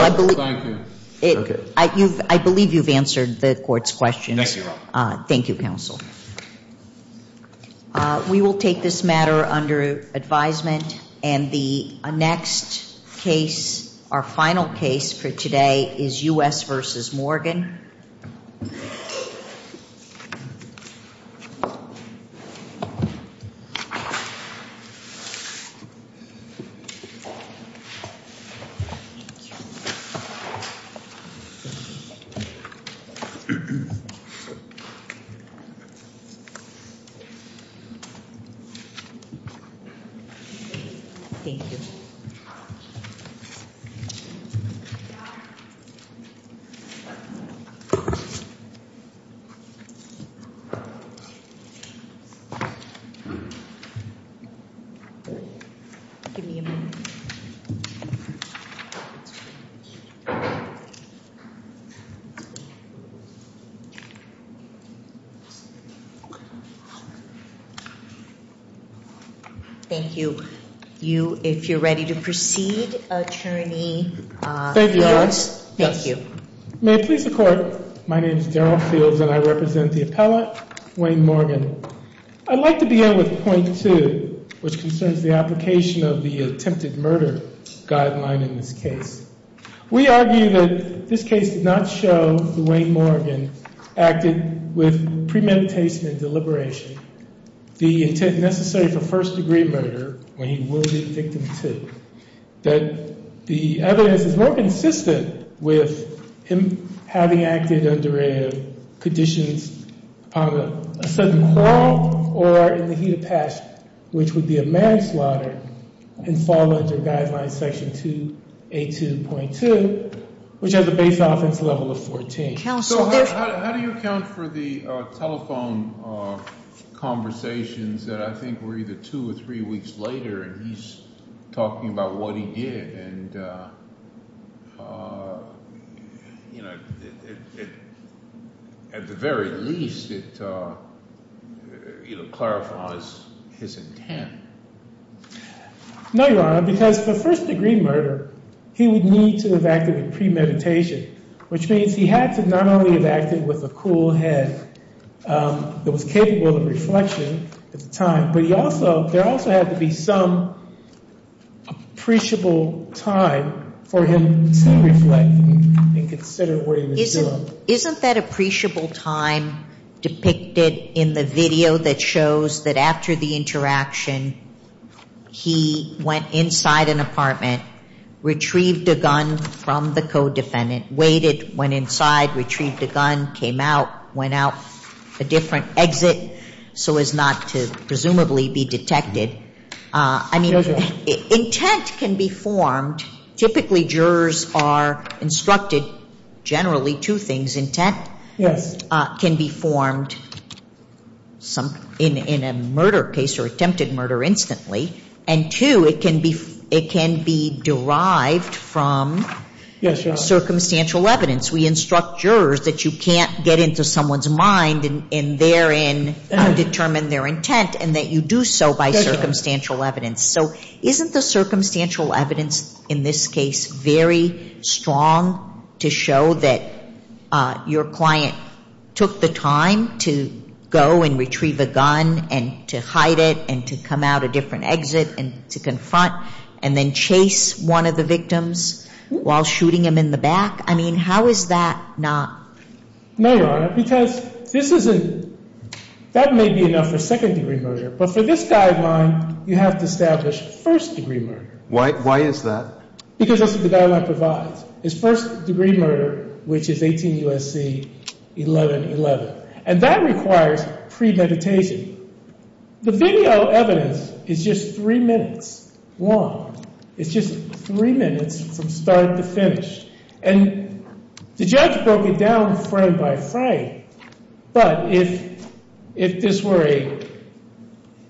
I believe you've answered the court's questions. Thank you counsel. We will take this matter Thank you. You, if you're ready to proceed, Attorney Fields. Thank you. May it please the court. My name is Daryl Fields and I represent the appellate, Wayne Morgan. I'd like to begin with point two, which concerns the application of the attempted murder guideline in this case. We argue that this case did not show that Wayne Morgan acted with premeditation and deliberation, the intent necessary for first degree murder when he will be a victim too. That the evidence is more consistent with him having acted under conditions of a sudden crawl or in the heat of passion, which would be a manslaughter and fall under guideline section 282.2, which has a base offense level of 14. So how do you account for the telephone conversations that I think were either two or three weeks later and he's talking about what he did and at the very least it clarifies his intent. No, Your Honor, because for first degree murder, he would need to have acted with premeditation, which means he had to not only have acted with a cool head that was capable of reflection at the time, but there also had to be some appreciable time for him to reflect and consider what he was doing. So isn't that appreciable time depicted in the video that shows that after the interaction, he went inside an apartment, retrieved a gun from the co-defendant, waited, went inside, retrieved a gun, came out, went out a different exit so as not to presumably be detected. I mean, intent can be formed. Typically, jurors are instructed generally two things. Intent can be formed in a murder case or attempted murder instantly. And two, it can be derived from circumstantial evidence. We instruct jurors that you can't get into someone's mind and therein determine their intent and that you do so by circumstantial evidence. So isn't the circumstantial evidence in this case very strong to show that your client took the time to go and retrieve a gun and to hide it and to come out a different exit and to confront and then chase one of the victims while shooting him in the back? I mean, how is that not? No, Your Honor, because this isn't – that may be enough for second-degree murder. But for this guideline, you have to establish first-degree murder. Why is that? Because that's what the guideline provides. It's first-degree murder, which is 18 U.S.C. 1111. And that requires premeditation. The video evidence is just three minutes long. It's just three minutes from start to finish. And the judge broke it down frame by frame. But if this were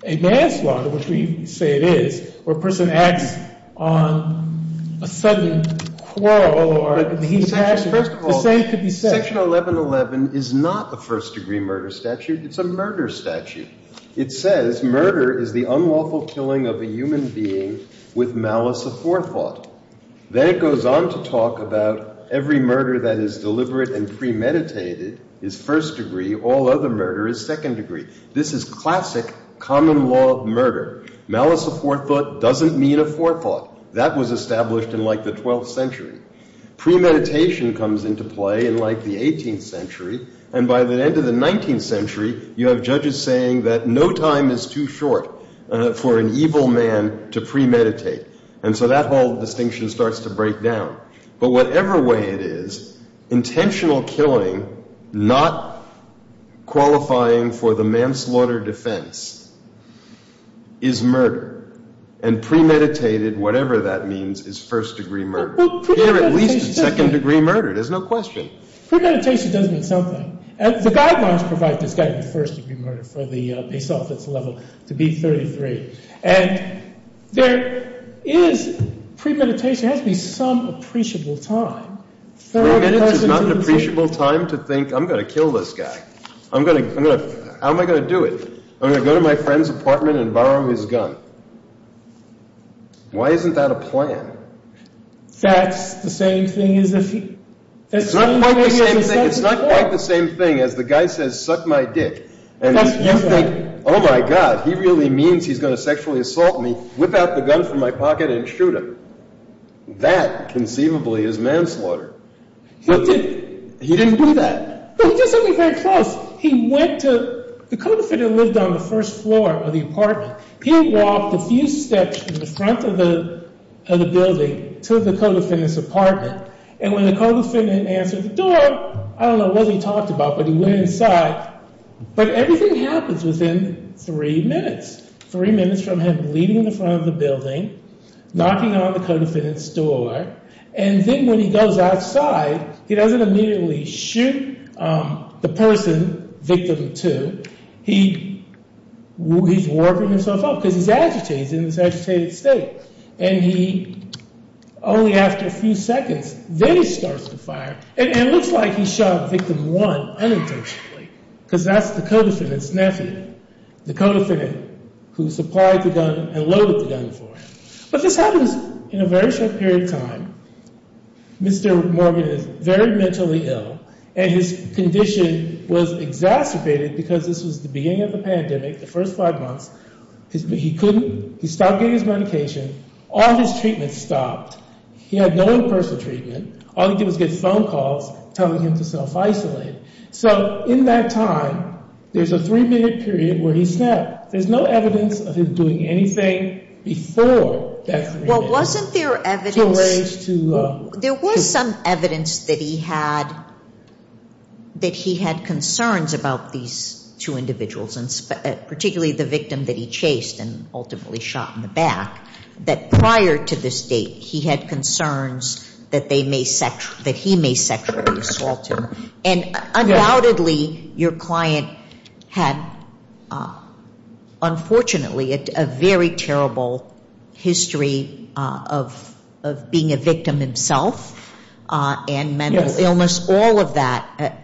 a manslaughter, which we say it is, where a person acts on a sudden quarrel or he's – the same could be said. Section 1111 is not a first-degree murder statute. It's a murder statute. It says murder is the unlawful killing of a human being with malice aforethought. Then it goes on to talk about every murder that is deliberate and premeditated is first-degree. All other murder is second-degree. This is classic common law murder. Malice aforethought doesn't mean aforethought. That was established in, like, the 12th century. Premeditation comes into play in, like, the 18th century. And by the end of the 19th century, you have judges saying that no time is too short for an evil man to premeditate. And so that whole distinction starts to break down. But whatever way it is, intentional killing, not qualifying for the manslaughter defense, is murder. And premeditated, whatever that means, is first-degree murder. Here, at least, it's second-degree murder. There's no question. Premeditation does mean something. The guidelines provide this guy to be first-degree murder for the base office level, to be 33. And there is premeditation. There has to be some appreciable time. Three minutes is not an appreciable time to think, I'm going to kill this guy. I'm going to – how am I going to do it? I'm going to go to my friend's apartment and borrow his gun. Why isn't that a plan? That's the same thing as if he – It's not quite the same thing as the guy says, suck my dick. And you think, oh, my God, he really means he's going to sexually assault me, whip out the gun from my pocket and shoot him. That, conceivably, is manslaughter. He didn't do that. He did something very close. He went to – the co-defendant lived on the first floor of the apartment. He walked a few steps to the front of the building to the co-defendant's apartment. And when the co-defendant answered the door, I don't know what he talked about, but he went inside. But everything happens within three minutes, three minutes from him leaving the front of the building, knocking on the co-defendant's door. And then when he goes outside, he doesn't immediately shoot the person, victim two. He's warping himself up because he's agitated. He's in this agitated state. And he, only after a few seconds, then he starts to fire. And it looks like he shot victim one unintentionally because that's the co-defendant's nephew, the co-defendant who supplied the gun and loaded the gun for him. But this happens in a very short period of time. Mr. Morgan is very mentally ill. And his condition was exacerbated because this was the beginning of the pandemic, the first five months. He couldn't, he stopped getting his medication. All his treatments stopped. He had no in-person treatment. All he did was get phone calls telling him to self-isolate. So in that time, there's a three-minute period where he snapped. There's no evidence of him doing anything before that three minutes. There was some evidence that he had concerns about these two individuals, particularly the victim that he chased and ultimately shot in the back, that prior to this date, he had concerns that they may, that he may sexually assault him. And undoubtedly, your client had, unfortunately, a very terrible history of being a victim himself and mental illness. All of that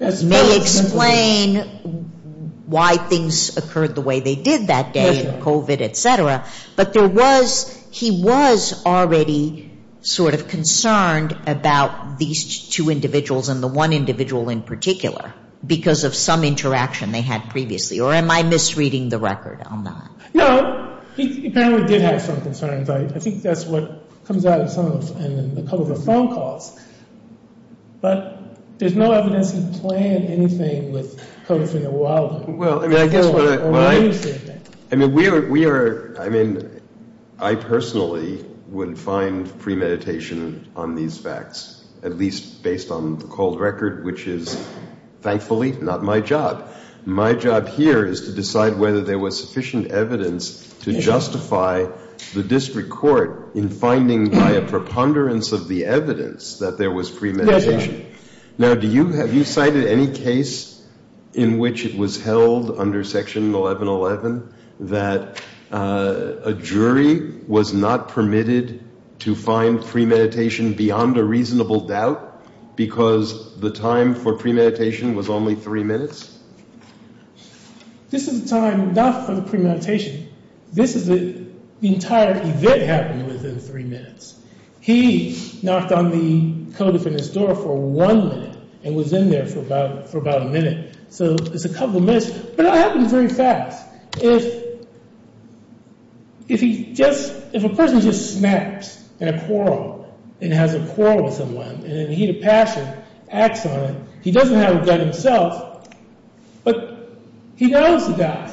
may explain why things occurred the way they did that day, COVID, et cetera. But there was, he was already sort of concerned about these two individuals and the one individual in particular because of some interaction they had previously. Or am I misreading the record on that? No. He apparently did have some concerns. I think that's what comes out in some of the, in a couple of the phone calls. But there's no evidence he planned anything with COVID for a while. Well, I guess what I, I mean, we are, we are, I mean, I personally would find premeditation on these facts, at least based on the cold record, which is thankfully not my job. My job here is to decide whether there was sufficient evidence to justify the district court in finding by a preponderance of the evidence that there was premeditation. Now, do you, have you cited any case in which it was held under Section 1111 that a jury was not permitted to find premeditation beyond a reasonable doubt because the time for premeditation was only three minutes? This is the time not for the premeditation. This is the entire event happened within three minutes. He knocked on the COVID fitness door for one minute and was in there for about, for about a minute. So it's a couple of minutes, but it happens very fast. If, if he just, if a person just snaps in a quarrel and has a quarrel with someone and he had a passion, acts on it, he doesn't have a gun himself, but he knows the guy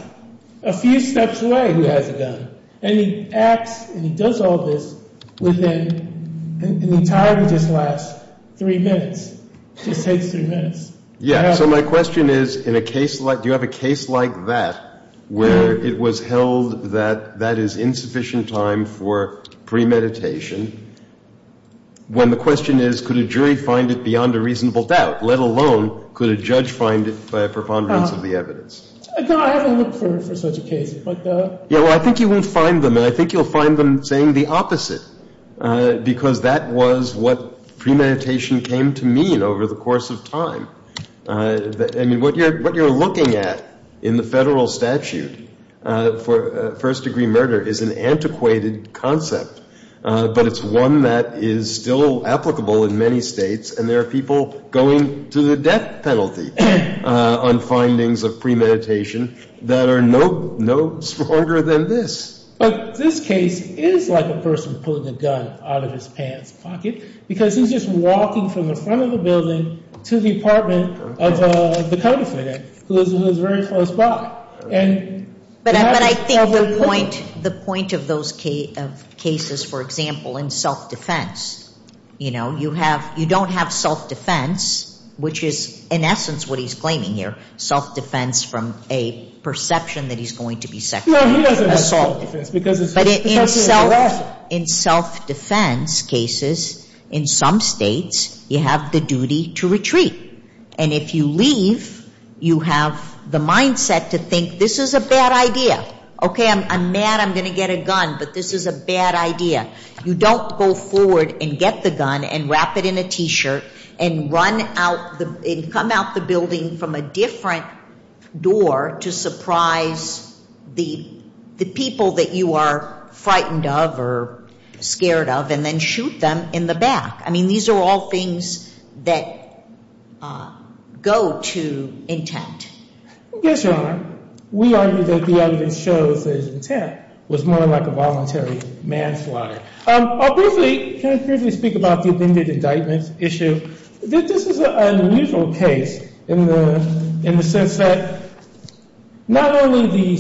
a few steps away who has a gun. And he acts and he does all this within, and the time just lasts three minutes, just takes three minutes. Yeah. So my question is, in a case like, do you have a case like that where it was held that that is insufficient time for premeditation when the question is, could a jury find it beyond a reasonable doubt, let alone could a judge find it by a preponderance of the evidence? No, I haven't looked for such a case. Yeah, well, I think you will find them and I think you'll find them saying the opposite because that was what premeditation came to mean over the course of time. I mean, what you're, what you're looking at in the federal statute for first degree murder is an antiquated concept, but it's one that is still applicable in many states. And there are people going to the death penalty on findings of premeditation that are no stronger than this. But this case is like a person pulling a gun out of his pants pocket because he's just walking from the front of the building to the apartment of the co-defendant who is very close by. But I think the point, the point of those cases, for example, in self-defense, you know, you have, you don't have self-defense, which is in essence what he's claiming here, self-defense from a perception that he's going to be sexually assaulted. No, he doesn't have self-defense. But in self-defense cases, in some states, you have the duty to retreat. And if you leave, you have the mindset to think this is a bad idea. Okay, I'm mad I'm going to get a gun, but this is a bad idea. You don't go forward and get the gun and wrap it in a T-shirt and run out, come out the building from a different door to surprise the people that you are frightened of or scared of and then shoot them in the back. I mean, these are all things that go to intent. Yes, Your Honor, we argue that the evidence shows that his intent was more like a voluntary manslaughter. I'll briefly, can I briefly speak about the amended indictment issue? This is an unusual case in the sense that not only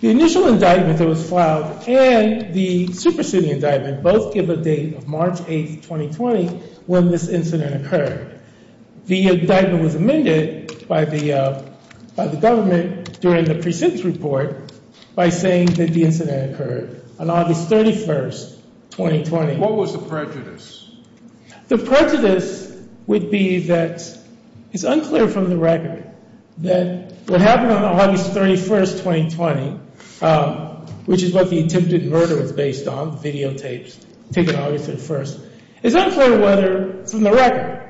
the initial indictment that was filed and the superseding indictment both give a date of March 8, 2020, when this incident occurred. The indictment was amended by the government during the precincts report by saying that the incident occurred on August 31, 2020. What was the prejudice? The prejudice would be that it's unclear from the record that what happened on August 31, 2020, which is what the attempted murder is based on, videotapes taken August 31st. It's unclear whether, from the record,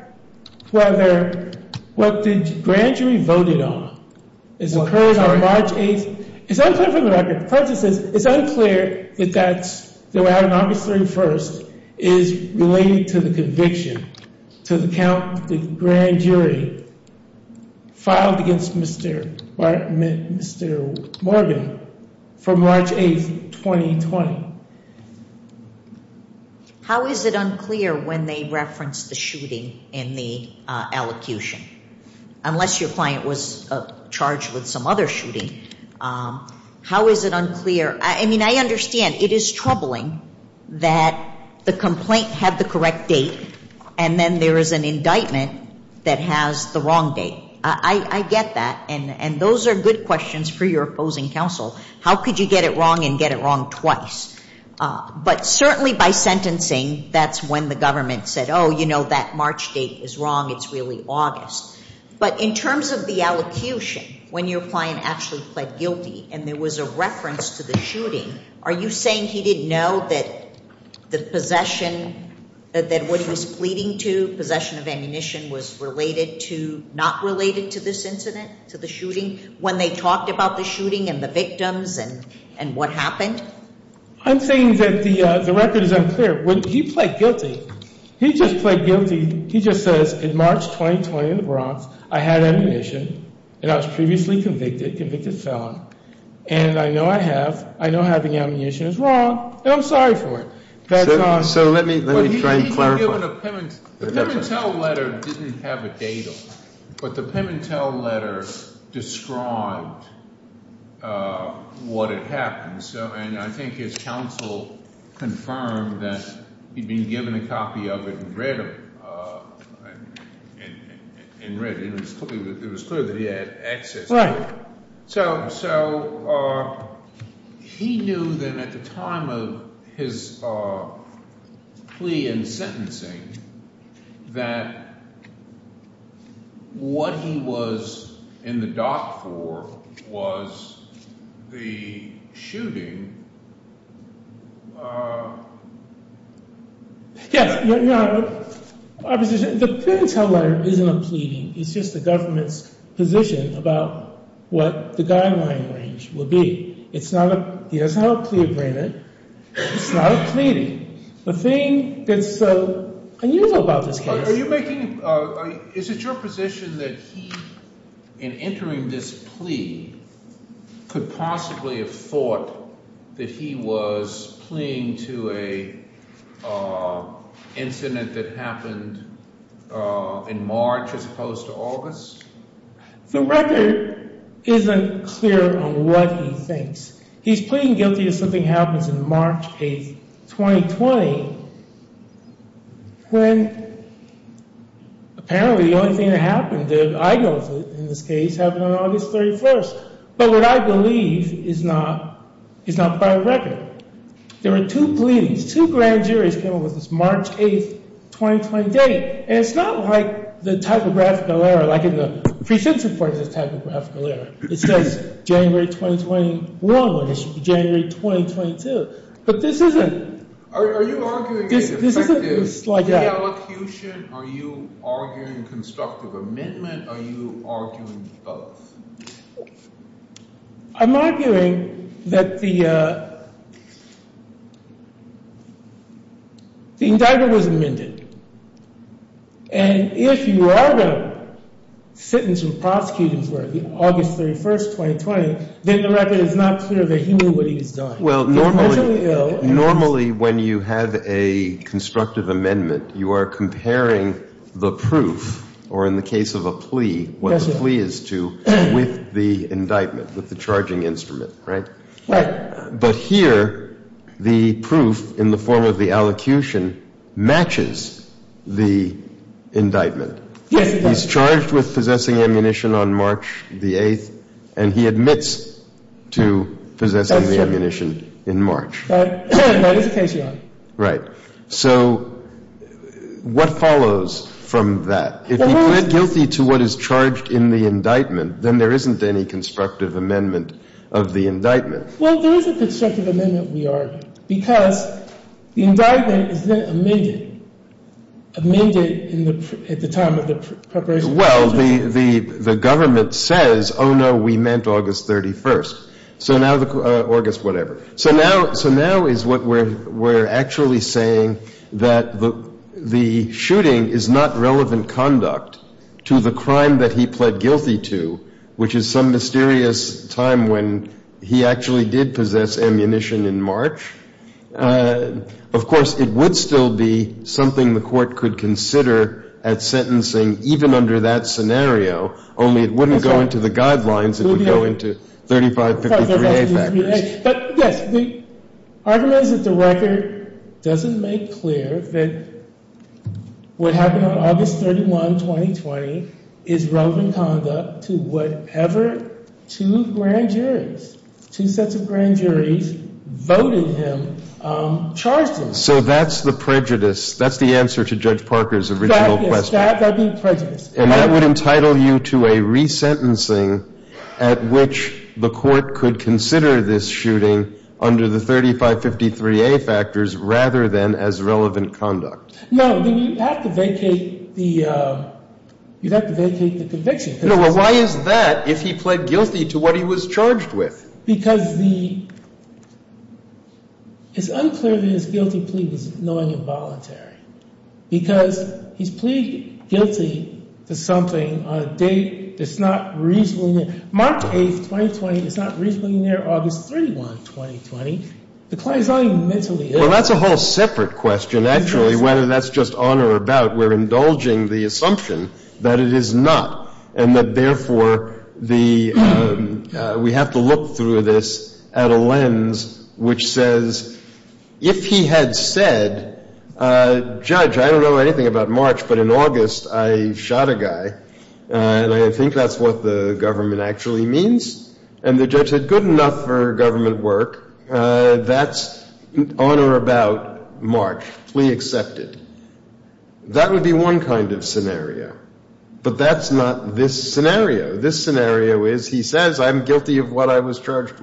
whether what the grand jury voted on is occurring on March 8th. It's unclear from the record. The prejudice is it's unclear that that's, that we're out on August 31st is related to the conviction, to the count the grand jury filed against Mr. Morgan from March 8th, 2020. How is it unclear when they referenced the shooting in the allocution? Unless your client was charged with some other shooting. How is it unclear? I mean, I understand it is troubling that the complaint had the correct date and then there is an indictment that has the wrong date. I get that. And those are good questions for your opposing counsel. How could you get it wrong and get it wrong twice? But certainly by sentencing, that's when the government said, oh, you know, that March date is wrong. It's really August. But in terms of the allocution, when your client actually pled guilty and there was a reference to the shooting, are you saying he didn't know that the possession, that what he was pleading to, possession of ammunition, was related to, not related to this incident, to the shooting? When they talked about the shooting and the victims and what happened? I'm saying that the record is unclear. When he pled guilty, he just pled guilty, he just says, in March 2020 in the Bronx, I had ammunition and I was previously convicted, convicted felon. And I know I have, I know having ammunition is wrong and I'm sorry for it. So let me try and clarify. The Pimentel letter didn't have a date on it. But the Pimentel letter described what had happened. And I think his counsel confirmed that he'd been given a copy of it and read it. It was clear that he had access to it. So he knew then at the time of his plea and sentencing that what he was in the dock for was the shooting. Yes. The Pimentel letter isn't a pleading. It's just the government's position about what the guideline range would be. It's not a plea agreement. It's not a pleading. The thing that's so unusual about this case. Is it your position that he, in entering this plea, could possibly have thought that he was pleading to an incident that happened in March as opposed to August? The record isn't clear on what he thinks. He's pleading guilty if something happens in March 8th, 2020. When apparently the only thing that happened that I know of in this case happened on August 31st. But what I believe is not by record. There were two pleadings. Two grand juries came up with this March 8th, 2020 date. And it's not like the typographical error like in the pre-sentence report is a typographical error. It says January 2021 when it's January 2022. But this isn't. Are you arguing the effective reallocution? Are you arguing constructive amendment? Are you arguing both? I'm arguing that the indictment was amended. And if you are going to sentence or prosecute him for August 31st, 2020, then the record is not clear that he knew what he was doing. Well, normally when you have a constructive amendment, you are comparing the proof or in the case of a plea, what the plea is to with the indictment, with the charging instrument. Right. But here the proof in the form of the allocution matches the indictment. Yes. He's charged with possessing ammunition on March the 8th, and he admits to possessing the ammunition in March. Right. So what follows from that? If he pled guilty to what is charged in the indictment, then there isn't any constructive amendment of the indictment. Well, there is a constructive amendment, we argue, because the indictment is then amended, amended at the time of the preparation. Well, the government says, oh, no, we meant August 31st. So now the August whatever. So now is what we're actually saying, that the shooting is not relevant conduct to the crime that he pled guilty to, which is some mysterious time when he actually did possess ammunition in March. Of course, it would still be something the Court could consider at sentencing even under that scenario, only it wouldn't go into the guidelines, it would go into 3553A factors. But, yes, the argument is that the record doesn't make clear that what happened on August 31, 2020, is relevant conduct to whatever two grand juries, two sets of grand juries, voted him, charged him. So that's the prejudice. That's the answer to Judge Parker's original question. Yes, that being prejudice. And that would entitle you to a resentencing at which the Court could consider this shooting under the 3553A factors rather than as relevant conduct. No, you'd have to vacate the conviction. Well, why is that if he pled guilty to what he was charged with? Because the — it's unclear that his guilty plea was knowingly involuntary, because he's pleaded guilty to something on a date that's not reasonably near. March 8, 2020 is not reasonably near August 31, 2020. The client is not even mentally ill. Well, that's a whole separate question, actually, whether that's just on or about. We're indulging the assumption that it is not, and that, therefore, the — we have to look through this at a lens which says, if he had said, Judge, I don't know anything about March, but in August I shot a guy, and I think that's what the government actually means. And the judge said, good enough for government work. That's on or about March. Well, that's a whole separate question, actually, whether that's just on or about March. We have to look through this at a lens which says, if he had said, I don't know anything about March, but in August I shot a guy, and I think that's what the government actually means. And the judge said, good enough for government work. We have to look through this at a lens which says, good enough for government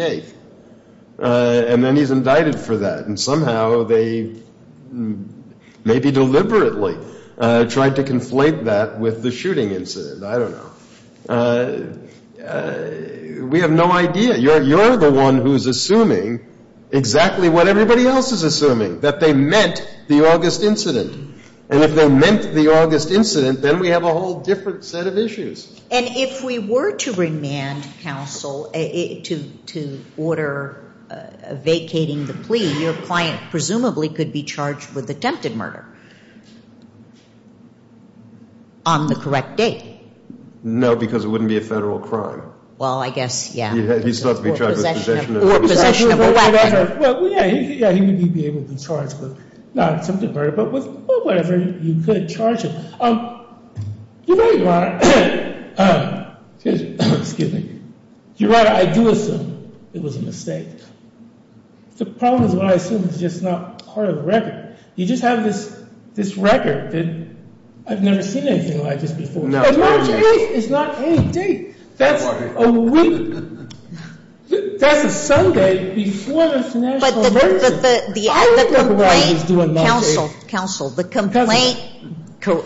work. And then he's indicted for that. And somehow they maybe deliberately tried to conflate that with the shooting incident. I don't know. We have no idea. You're the one who's assuming exactly what everybody else is assuming, that they meant the August incident. And if they meant the August incident, then we have a whole different set of issues. And if we were to remand counsel to order vacating the plea, your client presumably could be charged with attempted murder on the correct date. No, because it wouldn't be a federal crime. Well, I guess, yeah. He's thought to be charged with possession of a weapon. Well, yeah, he would be able to be charged with not attempted murder, but with whatever you could charge him. You're right, Your Honor. Excuse me. You're right. I do assume it was a mistake. The problem is what I assume is just not part of the record. You just have this record that I've never seen anything like this before. And March 8th is not any date. That's a week. That's a Sunday before the national emergency. Counsel, counsel, the complaint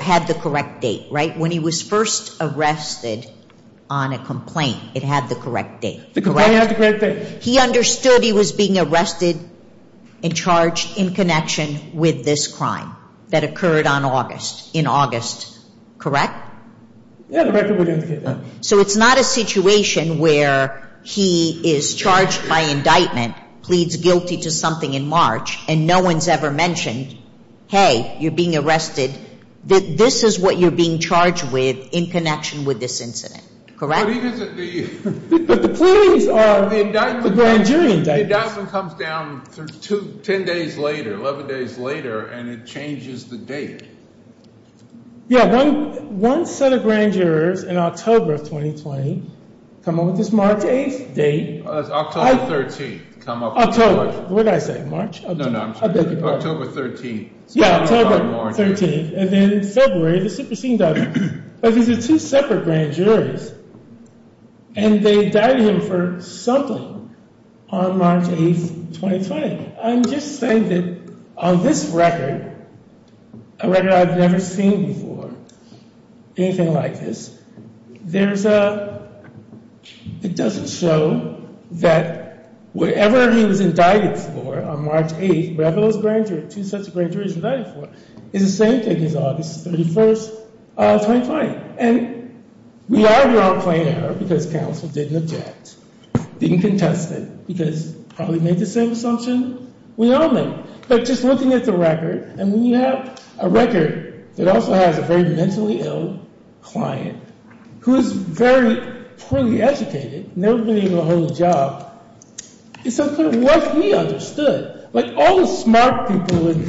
had the correct date, right? When he was first arrested on a complaint, it had the correct date, correct? The complaint had the correct date. He understood he was being arrested and charged in connection with this crime that occurred on August, in August, correct? Yeah, the record would indicate that. So it's not a situation where he is charged by indictment, pleads guilty to something in March, and no one's ever mentioned, hey, you're being arrested. This is what you're being charged with in connection with this incident, correct? But the pleadings are the grand jury indictments. The indictment comes down 10 days later, 11 days later, and it changes the date. Yeah, one set of grand jurors in October of 2020 come up with this March 8th date. It's October 13th. October. What did I say, March? No, no, I'm sorry. October 13th. Yeah, October 13th. And then in February, the super scene doesn't. But these are two separate grand juries, and they died him for something on March 8th, 2020. I'm just saying that on this record, a record I've never seen before, anything like this, there's a, it doesn't show that whatever he was indicted for on March 8th, whatever those grand juries, two sets of grand juries he was indicted for, is the same thing as August 31st, 2020. And we are, we are playing her because counsel didn't object, didn't contest it, because probably made the same assumption we all made. But just looking at the record, and when you have a record that also has a very mentally ill client who's very poorly educated, never been able to hold a job, it's unclear what he understood. Like, all the smart people in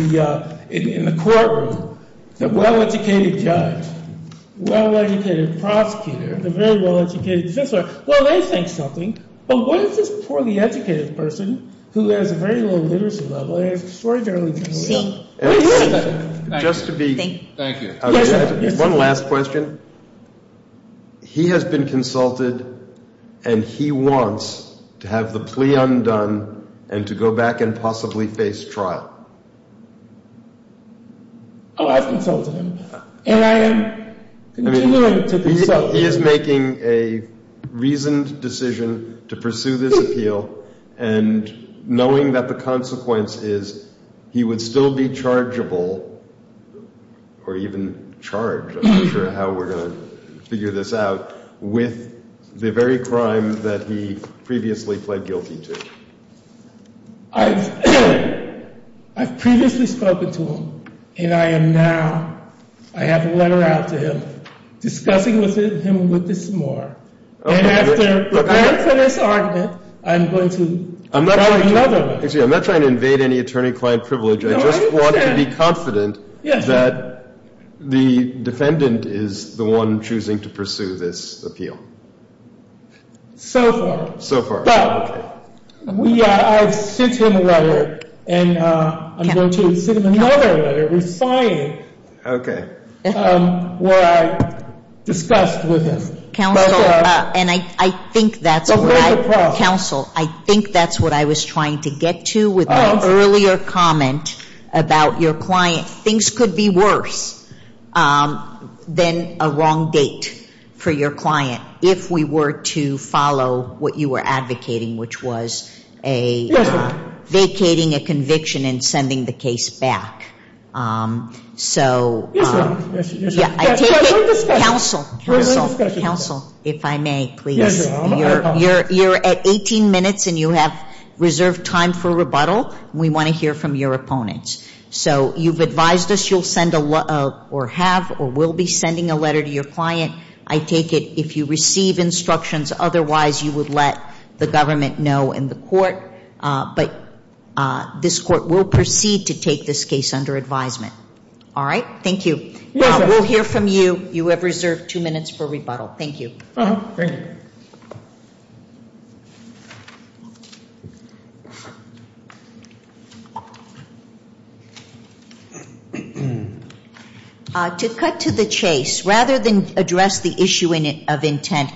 the courtroom, the well-educated judge, well-educated prosecutor, the very well-educated defense lawyer, well, they think something. But what is this poorly educated person who has a very low literacy level, and has extraordinarily little? Thank you. One last question. He has been consulted, and he wants to have the plea undone and to go back and possibly face trial. Oh, I've consulted him. And I am continuing to consult him. So he is making a reasoned decision to pursue this appeal, and knowing that the consequence is he would still be chargeable, or even charged, I'm not sure how we're going to figure this out, with the very crime that he previously pled guilty to. I've previously spoken to him, and I am now, I have a letter out to him discussing with him a little bit more. And after preparing for this argument, I'm going to try another one. I'm not trying to invade any attorney-client privilege. No, I understand. I just want to be confident that the defendant is the one choosing to pursue this appeal. So far. So far. But I've sent him a letter, and I'm going to send him another letter, resigned, where I discussed with him. Counsel, and I think that's what I was trying to get to with my earlier comment about your client. Things could be worse than a wrong date for your client, if we were to follow what you were advocating, which was vacating a conviction and sending the case back. Yes, ma'am. Counsel, counsel, if I may, please. You're at 18 minutes, and you have reserved time for rebuttal. We want to hear from your opponents. So you've advised us you'll send or have or will be sending a letter to your client. I take it if you receive instructions, otherwise you would let the government know and the court. But this court will proceed to take this case under advisement. All right? Thank you. We'll hear from you. You have reserved two minutes for rebuttal. Thank you. Thank you. To cut to the chase. Rather than address the issue of intent.